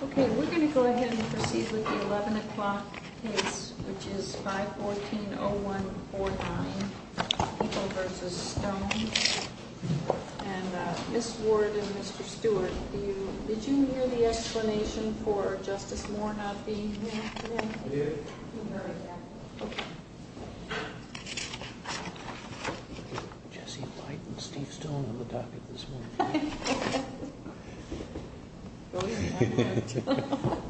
Okay, we're going to go ahead and proceed with the 11 o'clock case, which is 514-0149, People v. Stone. And Ms. Ward and Mr. Stewart, did you hear the explanation for Justice Moore not being here today? I did. Okay. Jesse White and Steve Stone on the docket this morning. Okay. Okay. Okay. Okay. Okay. Okay. Okay. Okay. Okay. Okay.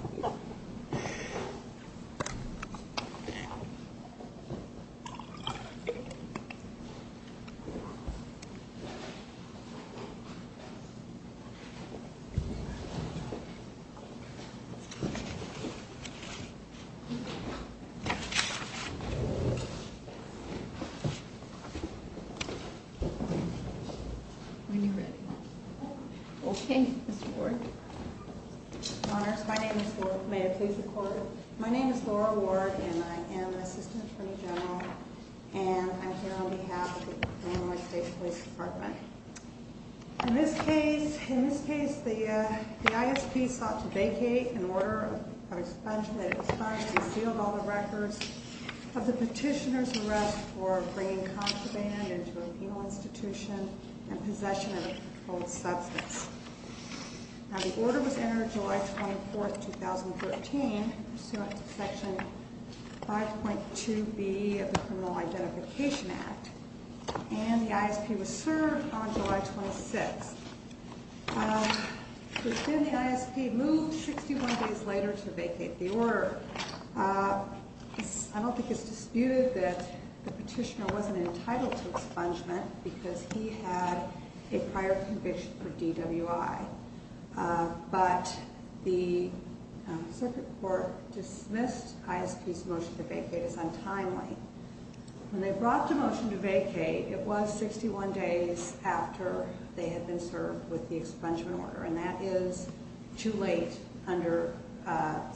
When they brought the motion to vacate, it was 61 days after they had been served with the expungement order, and that is too late under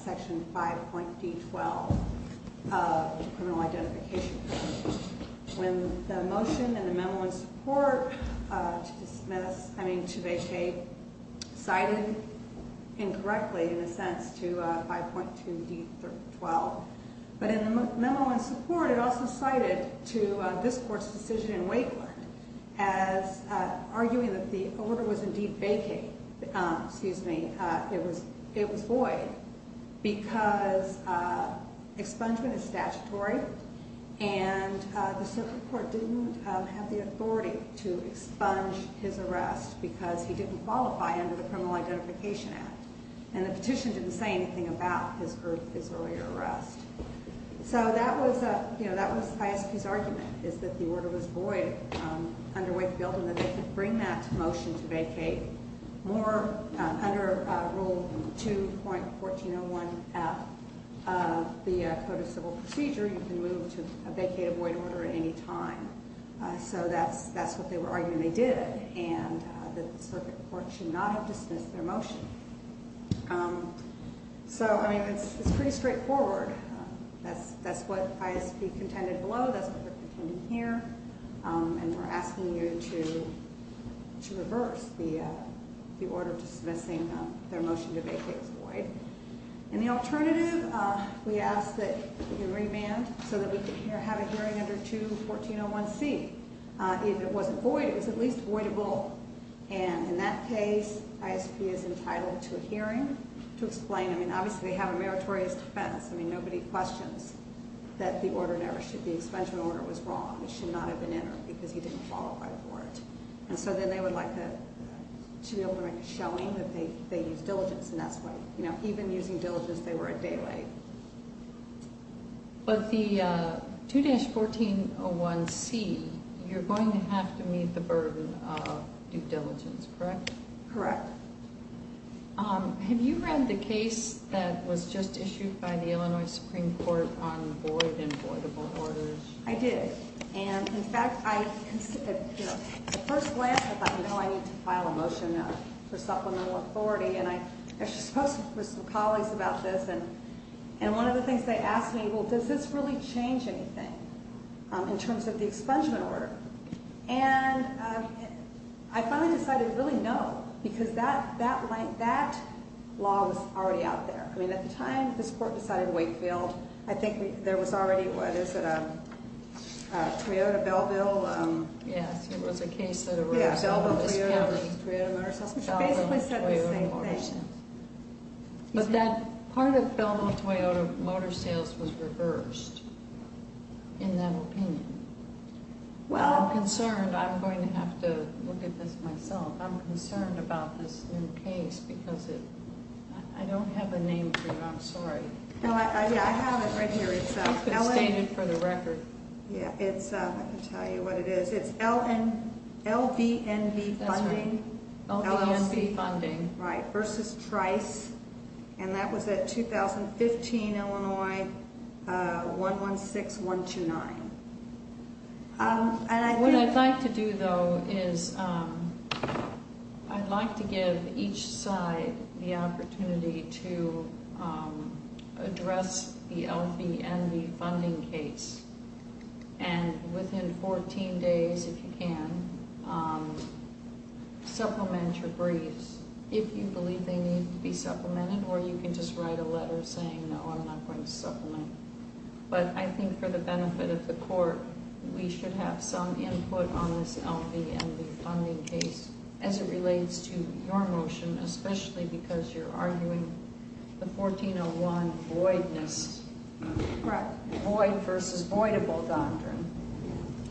Section 5.D12 of the Criminal Identification Code. When the motion and the memo in support to vacate cited incorrectly in a sense to 5.2D12, but in the memo in support, it also cited to this Court's decision in Wakeland as arguing that the order was indeed vacating. Excuse me. It was void because expungement is statutory, and the circuit court didn't have the authority to expunge his arrest because he didn't qualify under the Criminal Identification Act, and the petition didn't say anything about his earlier arrest. So that was ISP's argument is that the order was void under Wakefield and that they could bring that motion to vacate. Under Rule 2.1401F of the Code of Civil Procedure, you can move to vacate a void order at any time. So that's what they were arguing they did, and that the circuit court should not have dismissed their motion. So, I mean, it's pretty straightforward. That's what ISP contended below. That's what they're contending here, and we're asking you to reverse the order dismissing their motion to vacate as void. And the alternative, we ask that we remand so that we can have a hearing under 2.1401C. If it was void, it was at least voidable, and in that case, ISP is entitled to a hearing to explain. I mean, obviously, they have a meritorious defense. I mean, nobody questions that the order never should be—the expungement order was wrong. It should not have been entered because he didn't qualify for it. And so then they would like to be able to make a showing that they used diligence, and that's what—even using diligence, they were a day late. But the 2.1401C, you're going to have to meet the burden of due diligence, correct? Correct. Have you read the case that was just issued by the Illinois Supreme Court on void and voidable orders? I did. And, in fact, I—at first glance, I thought, no, I need to file a motion for supplemental authority. And I actually spoke with some colleagues about this, and one of the things they asked me, well, does this really change anything in terms of the expungement order? And I finally decided, really, no, because that law was already out there. I mean, at the time this court decided Wakefield, I think there was already, what is it, a Toyota Belleville— Yes, it was a case that— Yeah, Belleville Toyota Motor Sales. It basically said the same thing. But that part of Belleville Toyota Motor Sales was reversed, in that opinion. Well— I'm concerned. I'm going to have to look at this myself. I'm concerned about this new case because it—I don't have a name for it. I'm sorry. No, I have it right here. It's— You could have stained it for the record. Yeah, it's—I can tell you what it is. It's LVNV Funding. That's right. LVNV Funding. Right, versus Trice, and that was at 2015 Illinois 116-129. What I'd like to do, though, is I'd like to give each side the opportunity to address the LVNV Funding case and, within 14 days, if you can, supplement your briefs, if you believe they need to be supplemented, or you can just write a letter saying, no, I'm not going to supplement. But I think for the benefit of the court, we should have some input on this LVNV Funding case, as it relates to your motion, especially because you're arguing the 1401 voidness. Correct. Void versus voidable doctrine.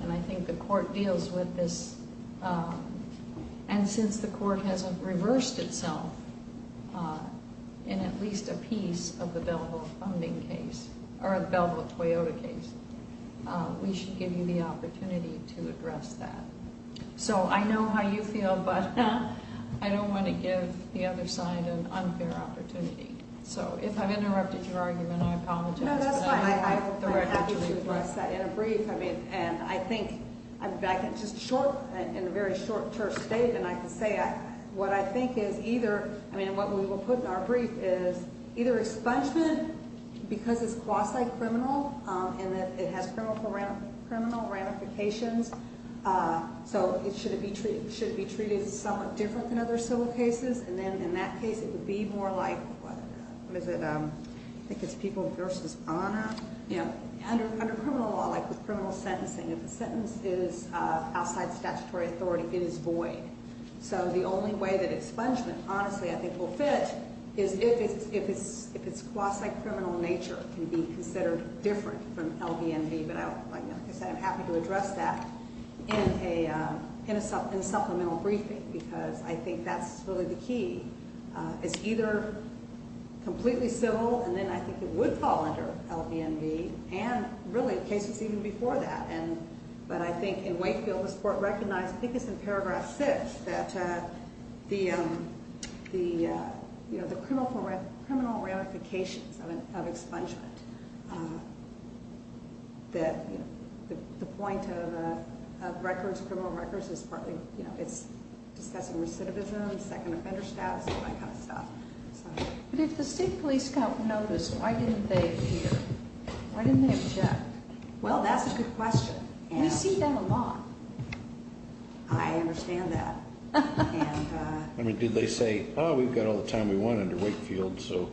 And I think the court deals with this. And since the court has reversed itself in at least a piece of the Belleville Toyota case, we should give you the opportunity to address that. So I know how you feel, but I don't want to give the other side an unfair opportunity. So if I've interrupted your argument, I apologize. No, that's fine. I'm happy to address that in a brief. I mean, and I think I'm back in just short, in a very short term state, and I can say what I think is either, I mean, what we will put in our brief is either expungement, because it's quasi-criminal, and that it has criminal ramifications, so it should be treated somewhat different than other civil cases. And then in that case, it would be more like, what is it, I think it's people versus honor. Under criminal law, like with criminal sentencing, if the sentence is outside statutory authority, it is void. So the only way that expungement, honestly, I think will fit is if its quasi-criminal nature can be considered different from LB&V. But like I said, I'm happy to address that in a supplemental briefing, because I think that's really the key. It's either completely civil, and then I think it would fall under LB&V, and really cases even before that. But I think in Wakefield, this Court recognized, I think it's in paragraph 6, that the criminal ramifications of expungement, that the point of records, criminal records, is partly, you know, it's discussing recidivism, second offender status, that kind of stuff. But if the state police don't notice, why didn't they hear? Why didn't they object? Well, that's a good question. We see them a lot. I understand that. I mean, did they say, oh, we've got all the time we want under Wakefield, so.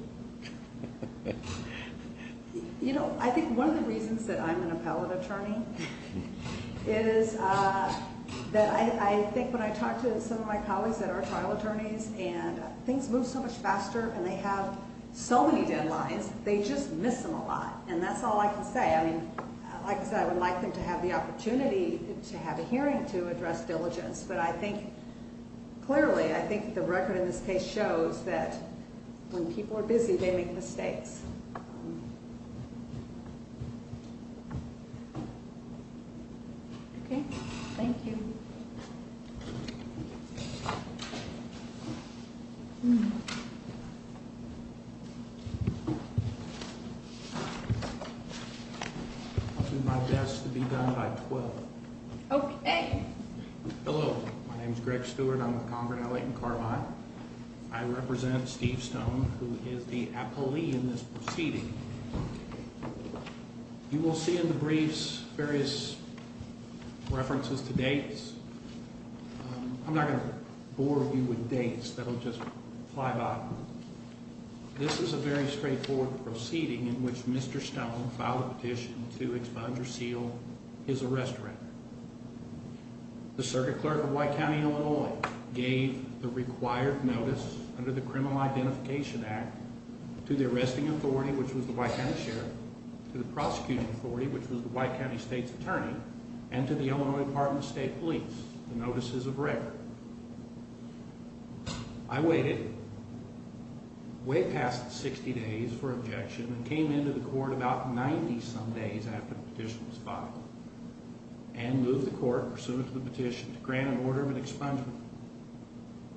You know, I think one of the reasons that I'm an appellate attorney is that I think when I talk to some of my colleagues that are trial attorneys, and things move so much faster, and they have so many deadlines, they just miss them a lot. And that's all I can say. I mean, like I said, I would like them to have the opportunity to have a hearing to address diligence. But I think, clearly, I think the record in this case shows that when people are busy, they make mistakes. Okay. Thank you. I'll do my best to be done by 12. Okay. Hello. My name is Greg Stewart. I'm with Conrad Alley & Carbide. I represent Steve Stone, who is the appellee in this proceeding. You will see in the briefs various references to dates. I'm not going to bore you with dates. That'll just fly by. This is a very straightforward proceeding in which Mr. Stone filed a petition to expunge or seal his arrest record. The circuit clerk of White County, Illinois, gave the required notice under the Criminal Identification Act to the arresting authority, which was the White County Sheriff, to the prosecuting authority, which was the White County State's attorney, and to the Illinois Department of State Police, the notices of record. I waited way past 60 days for objection and came into the court about 90-some days after the petition was filed. And moved the court, pursuant to the petition, to grant an order of expungement.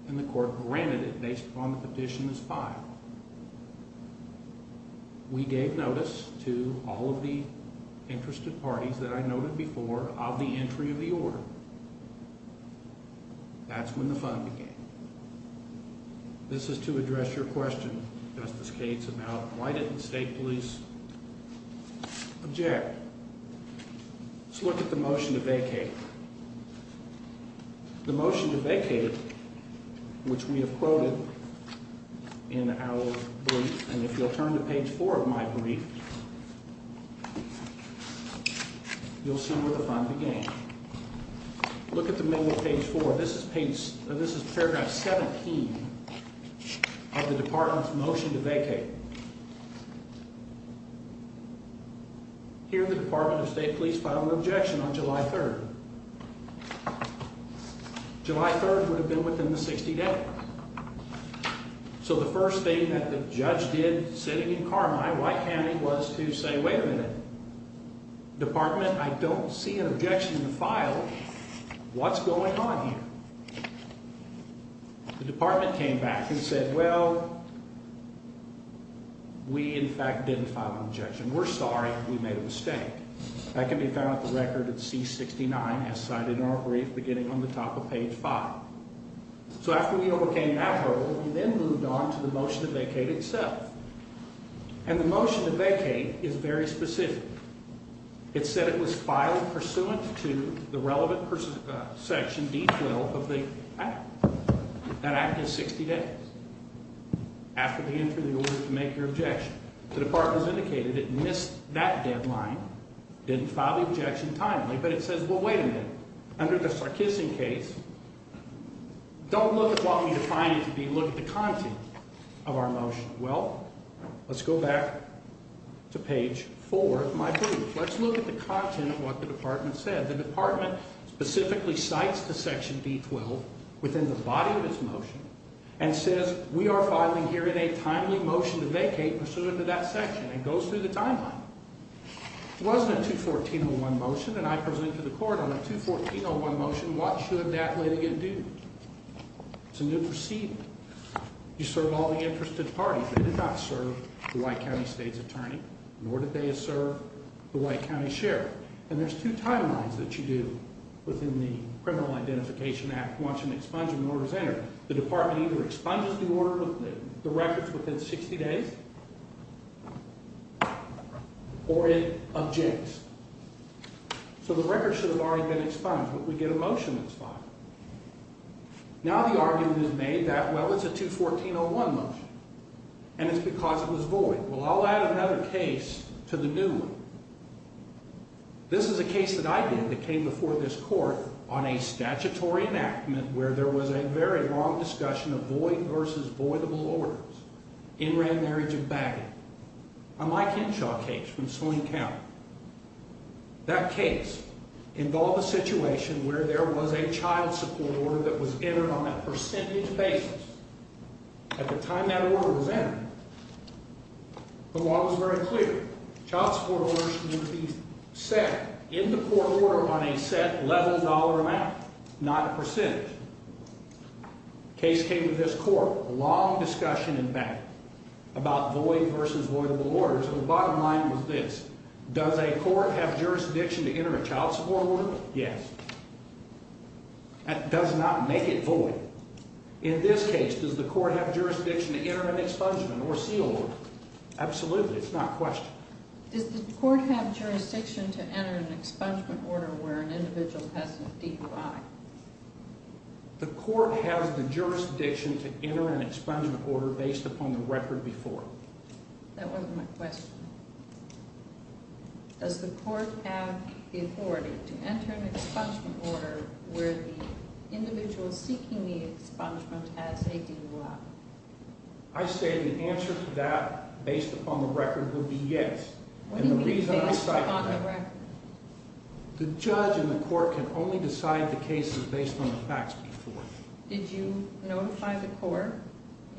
And the court granted it based upon the petition as filed. We gave notice to all of the interested parties that I noted before of the entry of the order. That's when the fun began. This is to address your question, Justice Cates, about why didn't the state police object? Let's look at the motion to vacate. The motion to vacate, which we have quoted in our brief, and if you'll turn to page 4 of my brief, you'll see where the fun began. Look at the middle of page 4. This is paragraph 17 of the Department's motion to vacate. Here the Department of State Police filed an objection on July 3rd. July 3rd would have been within the 60 day. So the first thing that the judge did, sitting in Carmine, White County, was to say, wait a minute. Department, I don't see an objection in the file. What's going on here? The department came back and said, well, we, in fact, didn't file an objection. We're sorry. We made a mistake. That can be found at the record at C69, as cited in our brief, beginning on the top of page 5. So after we overcame that hurdle, we then moved on to the motion to vacate itself. And the motion to vacate is very specific. It said it was filed pursuant to the relevant section D12 of the act. That act is 60 days after the entry of the order to make your objection. The department has indicated it missed that deadline. Didn't file the objection timely, but it says, well, wait a minute. Under the Sarkissian case, don't look at what we define it to be. Look at the content of our motion. Well, let's go back to page 4 of my brief. Let's look at the content of what the department said. The department specifically cites the section D12 within the body of its motion and says, we are filing here today a timely motion to vacate pursuant to that section. It goes through the timeline. It wasn't a 214.01 motion, and I presented to the court on a 214.01 motion. What should that lady do? It's a new proceeding. You serve all the interested parties. They did not serve the white county state's attorney, nor did they serve the white county sheriff. And there's two timelines that you do within the Criminal Identification Act once an expungement order is entered. The department either expunges the records within 60 days or it objects. So the records should have already been expunged, but we get a motion that's filed. Now the argument is made that, well, it's a 214.01 motion, and it's because it was void. Well, I'll add another case to the new one. This is a case that I did that came before this court on a statutory enactment where there was a very long discussion of void versus voidable orders in Rand Marriage of Bagot, a Mike Henshaw case from Swing County. That case involved a situation where there was a child support order that was entered on a percentage basis. At the time that order was entered, the law was very clear. Child support orders would be set in the court order on a set $11 amount, not a percentage. Case came to this court, long discussion in Bagot about void versus voidable orders, and the bottom line was this. Does a court have jurisdiction to enter a child support order? Yes. That does not make it void. In this case, does the court have jurisdiction to enter an expungement or seal order? Absolutely. It's not a question. Does the court have jurisdiction to enter an expungement order where an individual has a DUI? The court has the jurisdiction to enter an expungement order based upon the record before. That wasn't my question. Does the court have the authority to enter an expungement order where the individual seeking the expungement has a DUI? I say the answer to that based upon the record would be yes. What do you mean based upon the record? The judge in the court can only decide the cases based on the facts before. Did you notify the court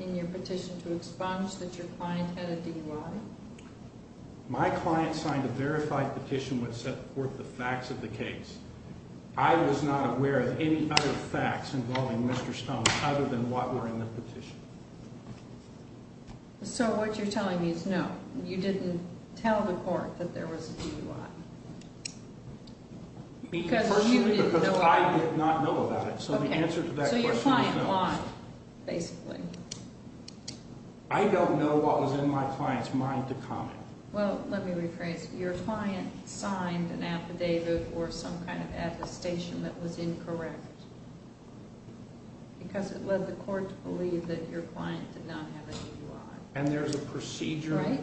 in your petition to expunge that your client had a DUI? My client signed a verified petition which set forth the facts of the case. I was not aware of any other facts involving Mr. Stone other than what were in the petition. So what you're telling me is no, you didn't tell the court that there was a DUI. Because I did not know about it. So your client lied, basically. I don't know what was in my client's mind to comment. Well, let me rephrase. Your client signed an affidavit or some kind of attestation that was incorrect. Because it led the court to believe that your client did not have a DUI. And there's a procedure.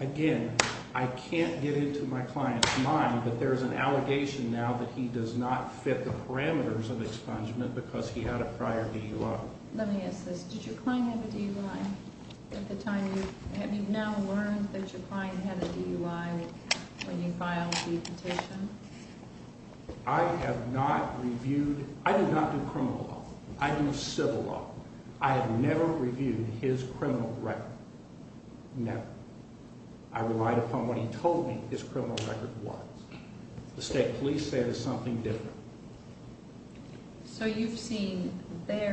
Again, I can't get into my client's mind, but there's an allegation now that he does not fit the parameters of expungement because he had a prior DUI. Let me ask this. Did your client have a DUI at the time? Have you now learned that your client had a DUI when you filed the petition? I have not reviewed. I did not do criminal law. I do civil law. I have never reviewed his criminal record. Never. I relied upon what he told me his criminal record was. The state police say it is something different. So you've seen their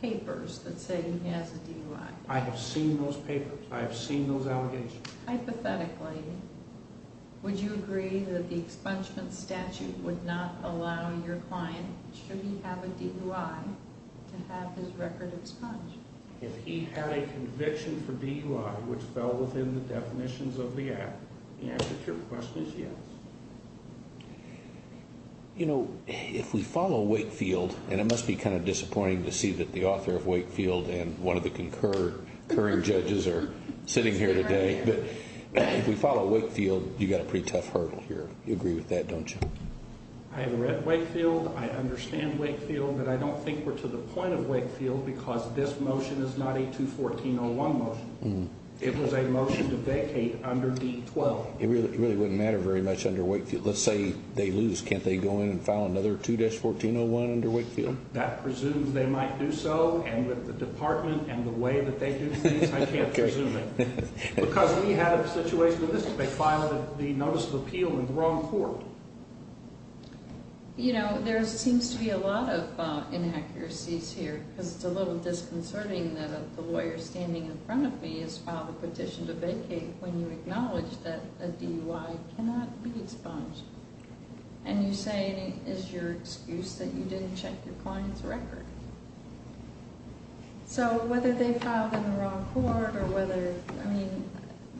papers that say he has a DUI. I have seen those papers. I have seen those allegations. Hypothetically, would you agree that the expungement statute would not allow your client, should he have a DUI, to have his record expunged? If he had a conviction for DUI which fell within the definitions of the act, the answer to your question is yes. You know, if we follow Wakefield, and it must be kind of disappointing to see that the author of Wakefield and one of the concurring judges are sitting here today. If we follow Wakefield, you've got a pretty tough hurdle here. You agree with that, don't you? I have read Wakefield. I understand Wakefield. But I don't think we're to the point of Wakefield because this motion is not a 2-1401 motion. It was a motion to vacate under D-12. It really wouldn't matter very much under Wakefield. Let's say they lose. Can't they go in and file another 2-1401 under Wakefield? That presumes they might do so, and with the department and the way that they do things, I can't presume it. Because we had a situation with this. They filed the notice of appeal in the wrong court. You know, there seems to be a lot of inaccuracies here because it's a little disconcerting that the lawyer standing in front of me has filed a petition to vacate when you acknowledge that a DUI cannot be expunged. And you say it is your excuse that you didn't check your client's record. So whether they filed in the wrong court or whether, I mean,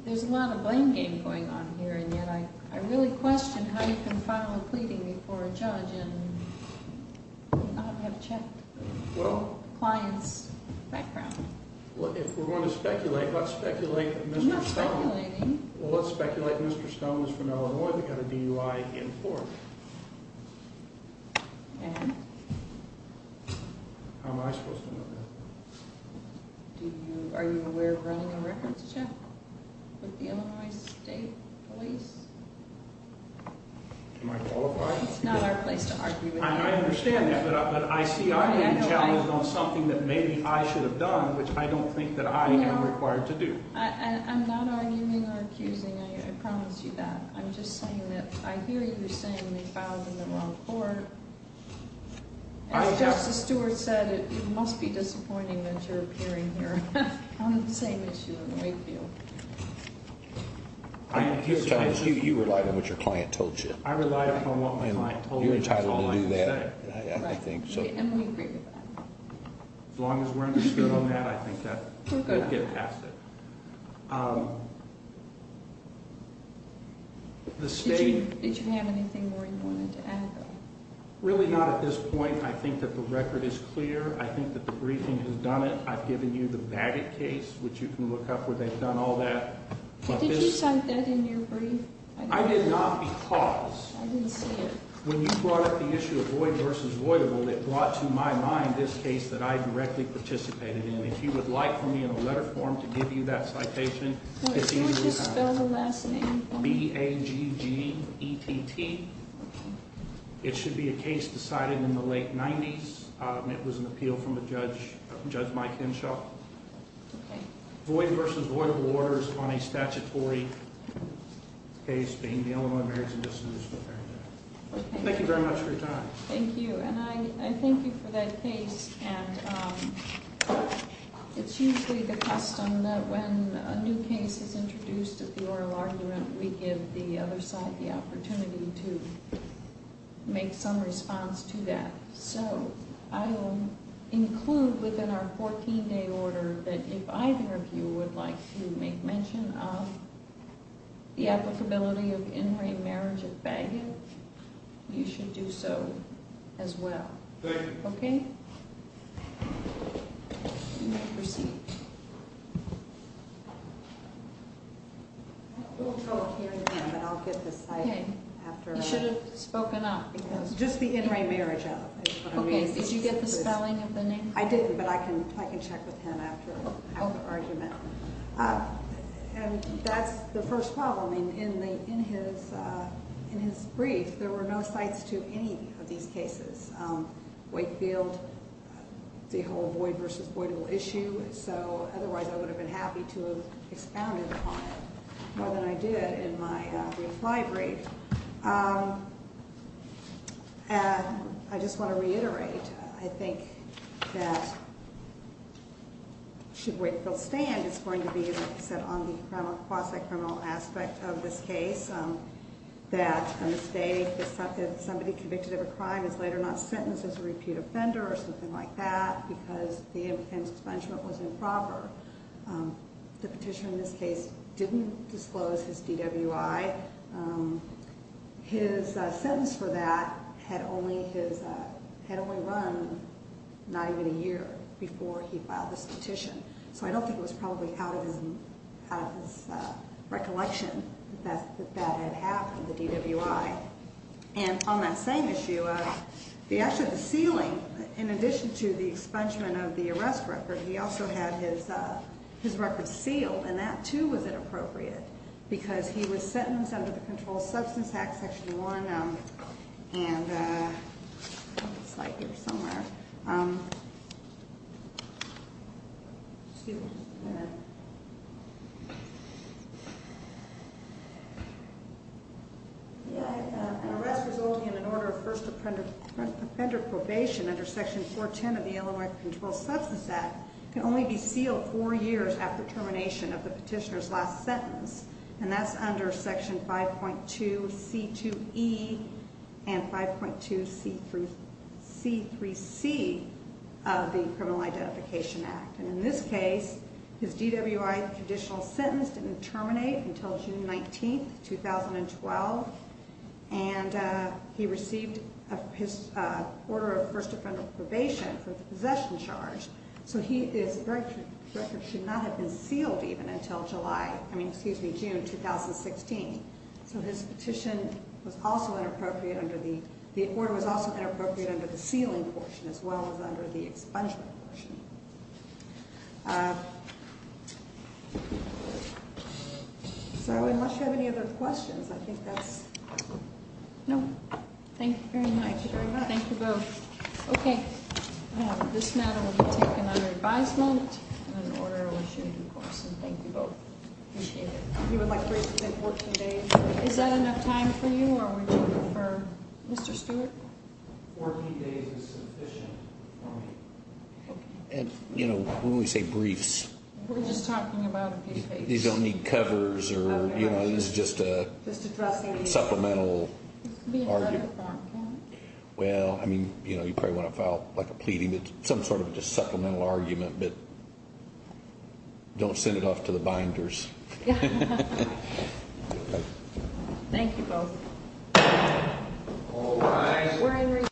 there's a lot of blame game going on here, and yet I really question how you can file a pleading before a judge and not have checked the client's background. Well, if we're going to speculate, let's speculate Mr. Stone. I'm not speculating. Well, let's speculate Mr. Stone is from Illinois. They've got a DUI in court. And? How am I supposed to know that? Are you aware of running a records check with the Illinois State Police? Am I qualified? It's not our place to argue with you. I understand that, but I see I'm being challenged on something that maybe I should have done, which I don't think that I am required to do. I'm not arguing or accusing. I promise you that. I'm just saying that I hear you saying they filed in the wrong court. As Justice Stewart said, it must be disappointing that you're appearing here on the same issue in Wakefield. You relied on what your client told you. I relied on what my client told me. And you're entitled to do that, I think. And we agree with that. As long as we're understood on that, I think we'll get past it. Did you have anything more you wanted to add, though? Really not at this point. I think that the record is clear. I think that the briefing has done it. I've given you the Baggett case, which you can look up where they've done all that. Did you cite that in your brief? I did not because when you brought up the issue of Void v. Voidable, it brought to my mind this case that I directly participated in. If you would like for me in a letter form to give you that citation, it's easy to do that. Can you just spell the last name? B-A-G-G-E-T-T. It should be a case decided in the late 90s. It was an appeal from Judge Mike Henshaw. Okay. Void v. Voidable orders on a statutory case being the Illinois Marriages and Dissolution of Marriage Act. Thank you very much for your time. Thank you. And I thank you for that case. And it's usually the custom that when a new case is introduced at the oral argument, we give the other side the opportunity to make some response to that. So I will include within our 14-day order that if either of you would like to make mention of the applicability of in-ring marriage at Baggett, you should do so as well. Thank you. You may proceed. I won't go up here again, but I'll get the site after. You should have spoken up. Just the in-ring marriage up is what I mean. Okay. Did you get the spelling of the name? I didn't, but I can check with him after the argument. And that's the first problem. In his brief, there were no sites to any of these cases. Wakefield, the whole void versus voidable issue. So otherwise, I would have been happy to have expounded on it more than I did in my brief library. And I just want to reiterate, I think that should Wakefield stand, it's going to be, as I said, on the quasi-criminal aspect of this case. That a mistake that somebody convicted of a crime is later not sentenced as a repeat offender or something like that because the offense expungement was improper. The petitioner in this case didn't disclose his DWI. His sentence for that had only run not even a year before he filed this petition. So I don't think it was probably out of his recollection that that had happened, the DWI. And on that same issue, the sealing, in addition to the expungement of the arrest record, he also had his record sealed. And that, too, was inappropriate because he was sentenced under the Controlled Substance Act, Section 1. And I have a slide here somewhere. An arrest resulting in an order of first offender probation under Section 410 of the Illinois Controlled Substance Act can only be sealed four years after termination of the petitioner's last sentence. And that's under Section 5.2C2E and 5.2C3C of the Criminal Identification Act. And in this case, his DWI conditional sentence didn't terminate until June 19, 2012. And he received his order of first offender probation for the possession charge. So his record should not have been sealed even until June 2016. So his order was also inappropriate under the sealing portion as well as under the expungement portion. So unless you have any other questions, I think that's it. No. Thank you very much. Thank you both. Okay. This matter will be taken under advisement and an order will be issued, of course, and thank you both. Appreciate it. Is that enough time for you or would you prefer Mr. Stewart? Fourteen days is sufficient for me. And, you know, when we say briefs, these don't need covers or, you know, this is just a supplemental argument. Well, I mean, you know, you probably want to file like a pleading, some sort of just supplemental argument, but don't send it off to the binders. Thank you both.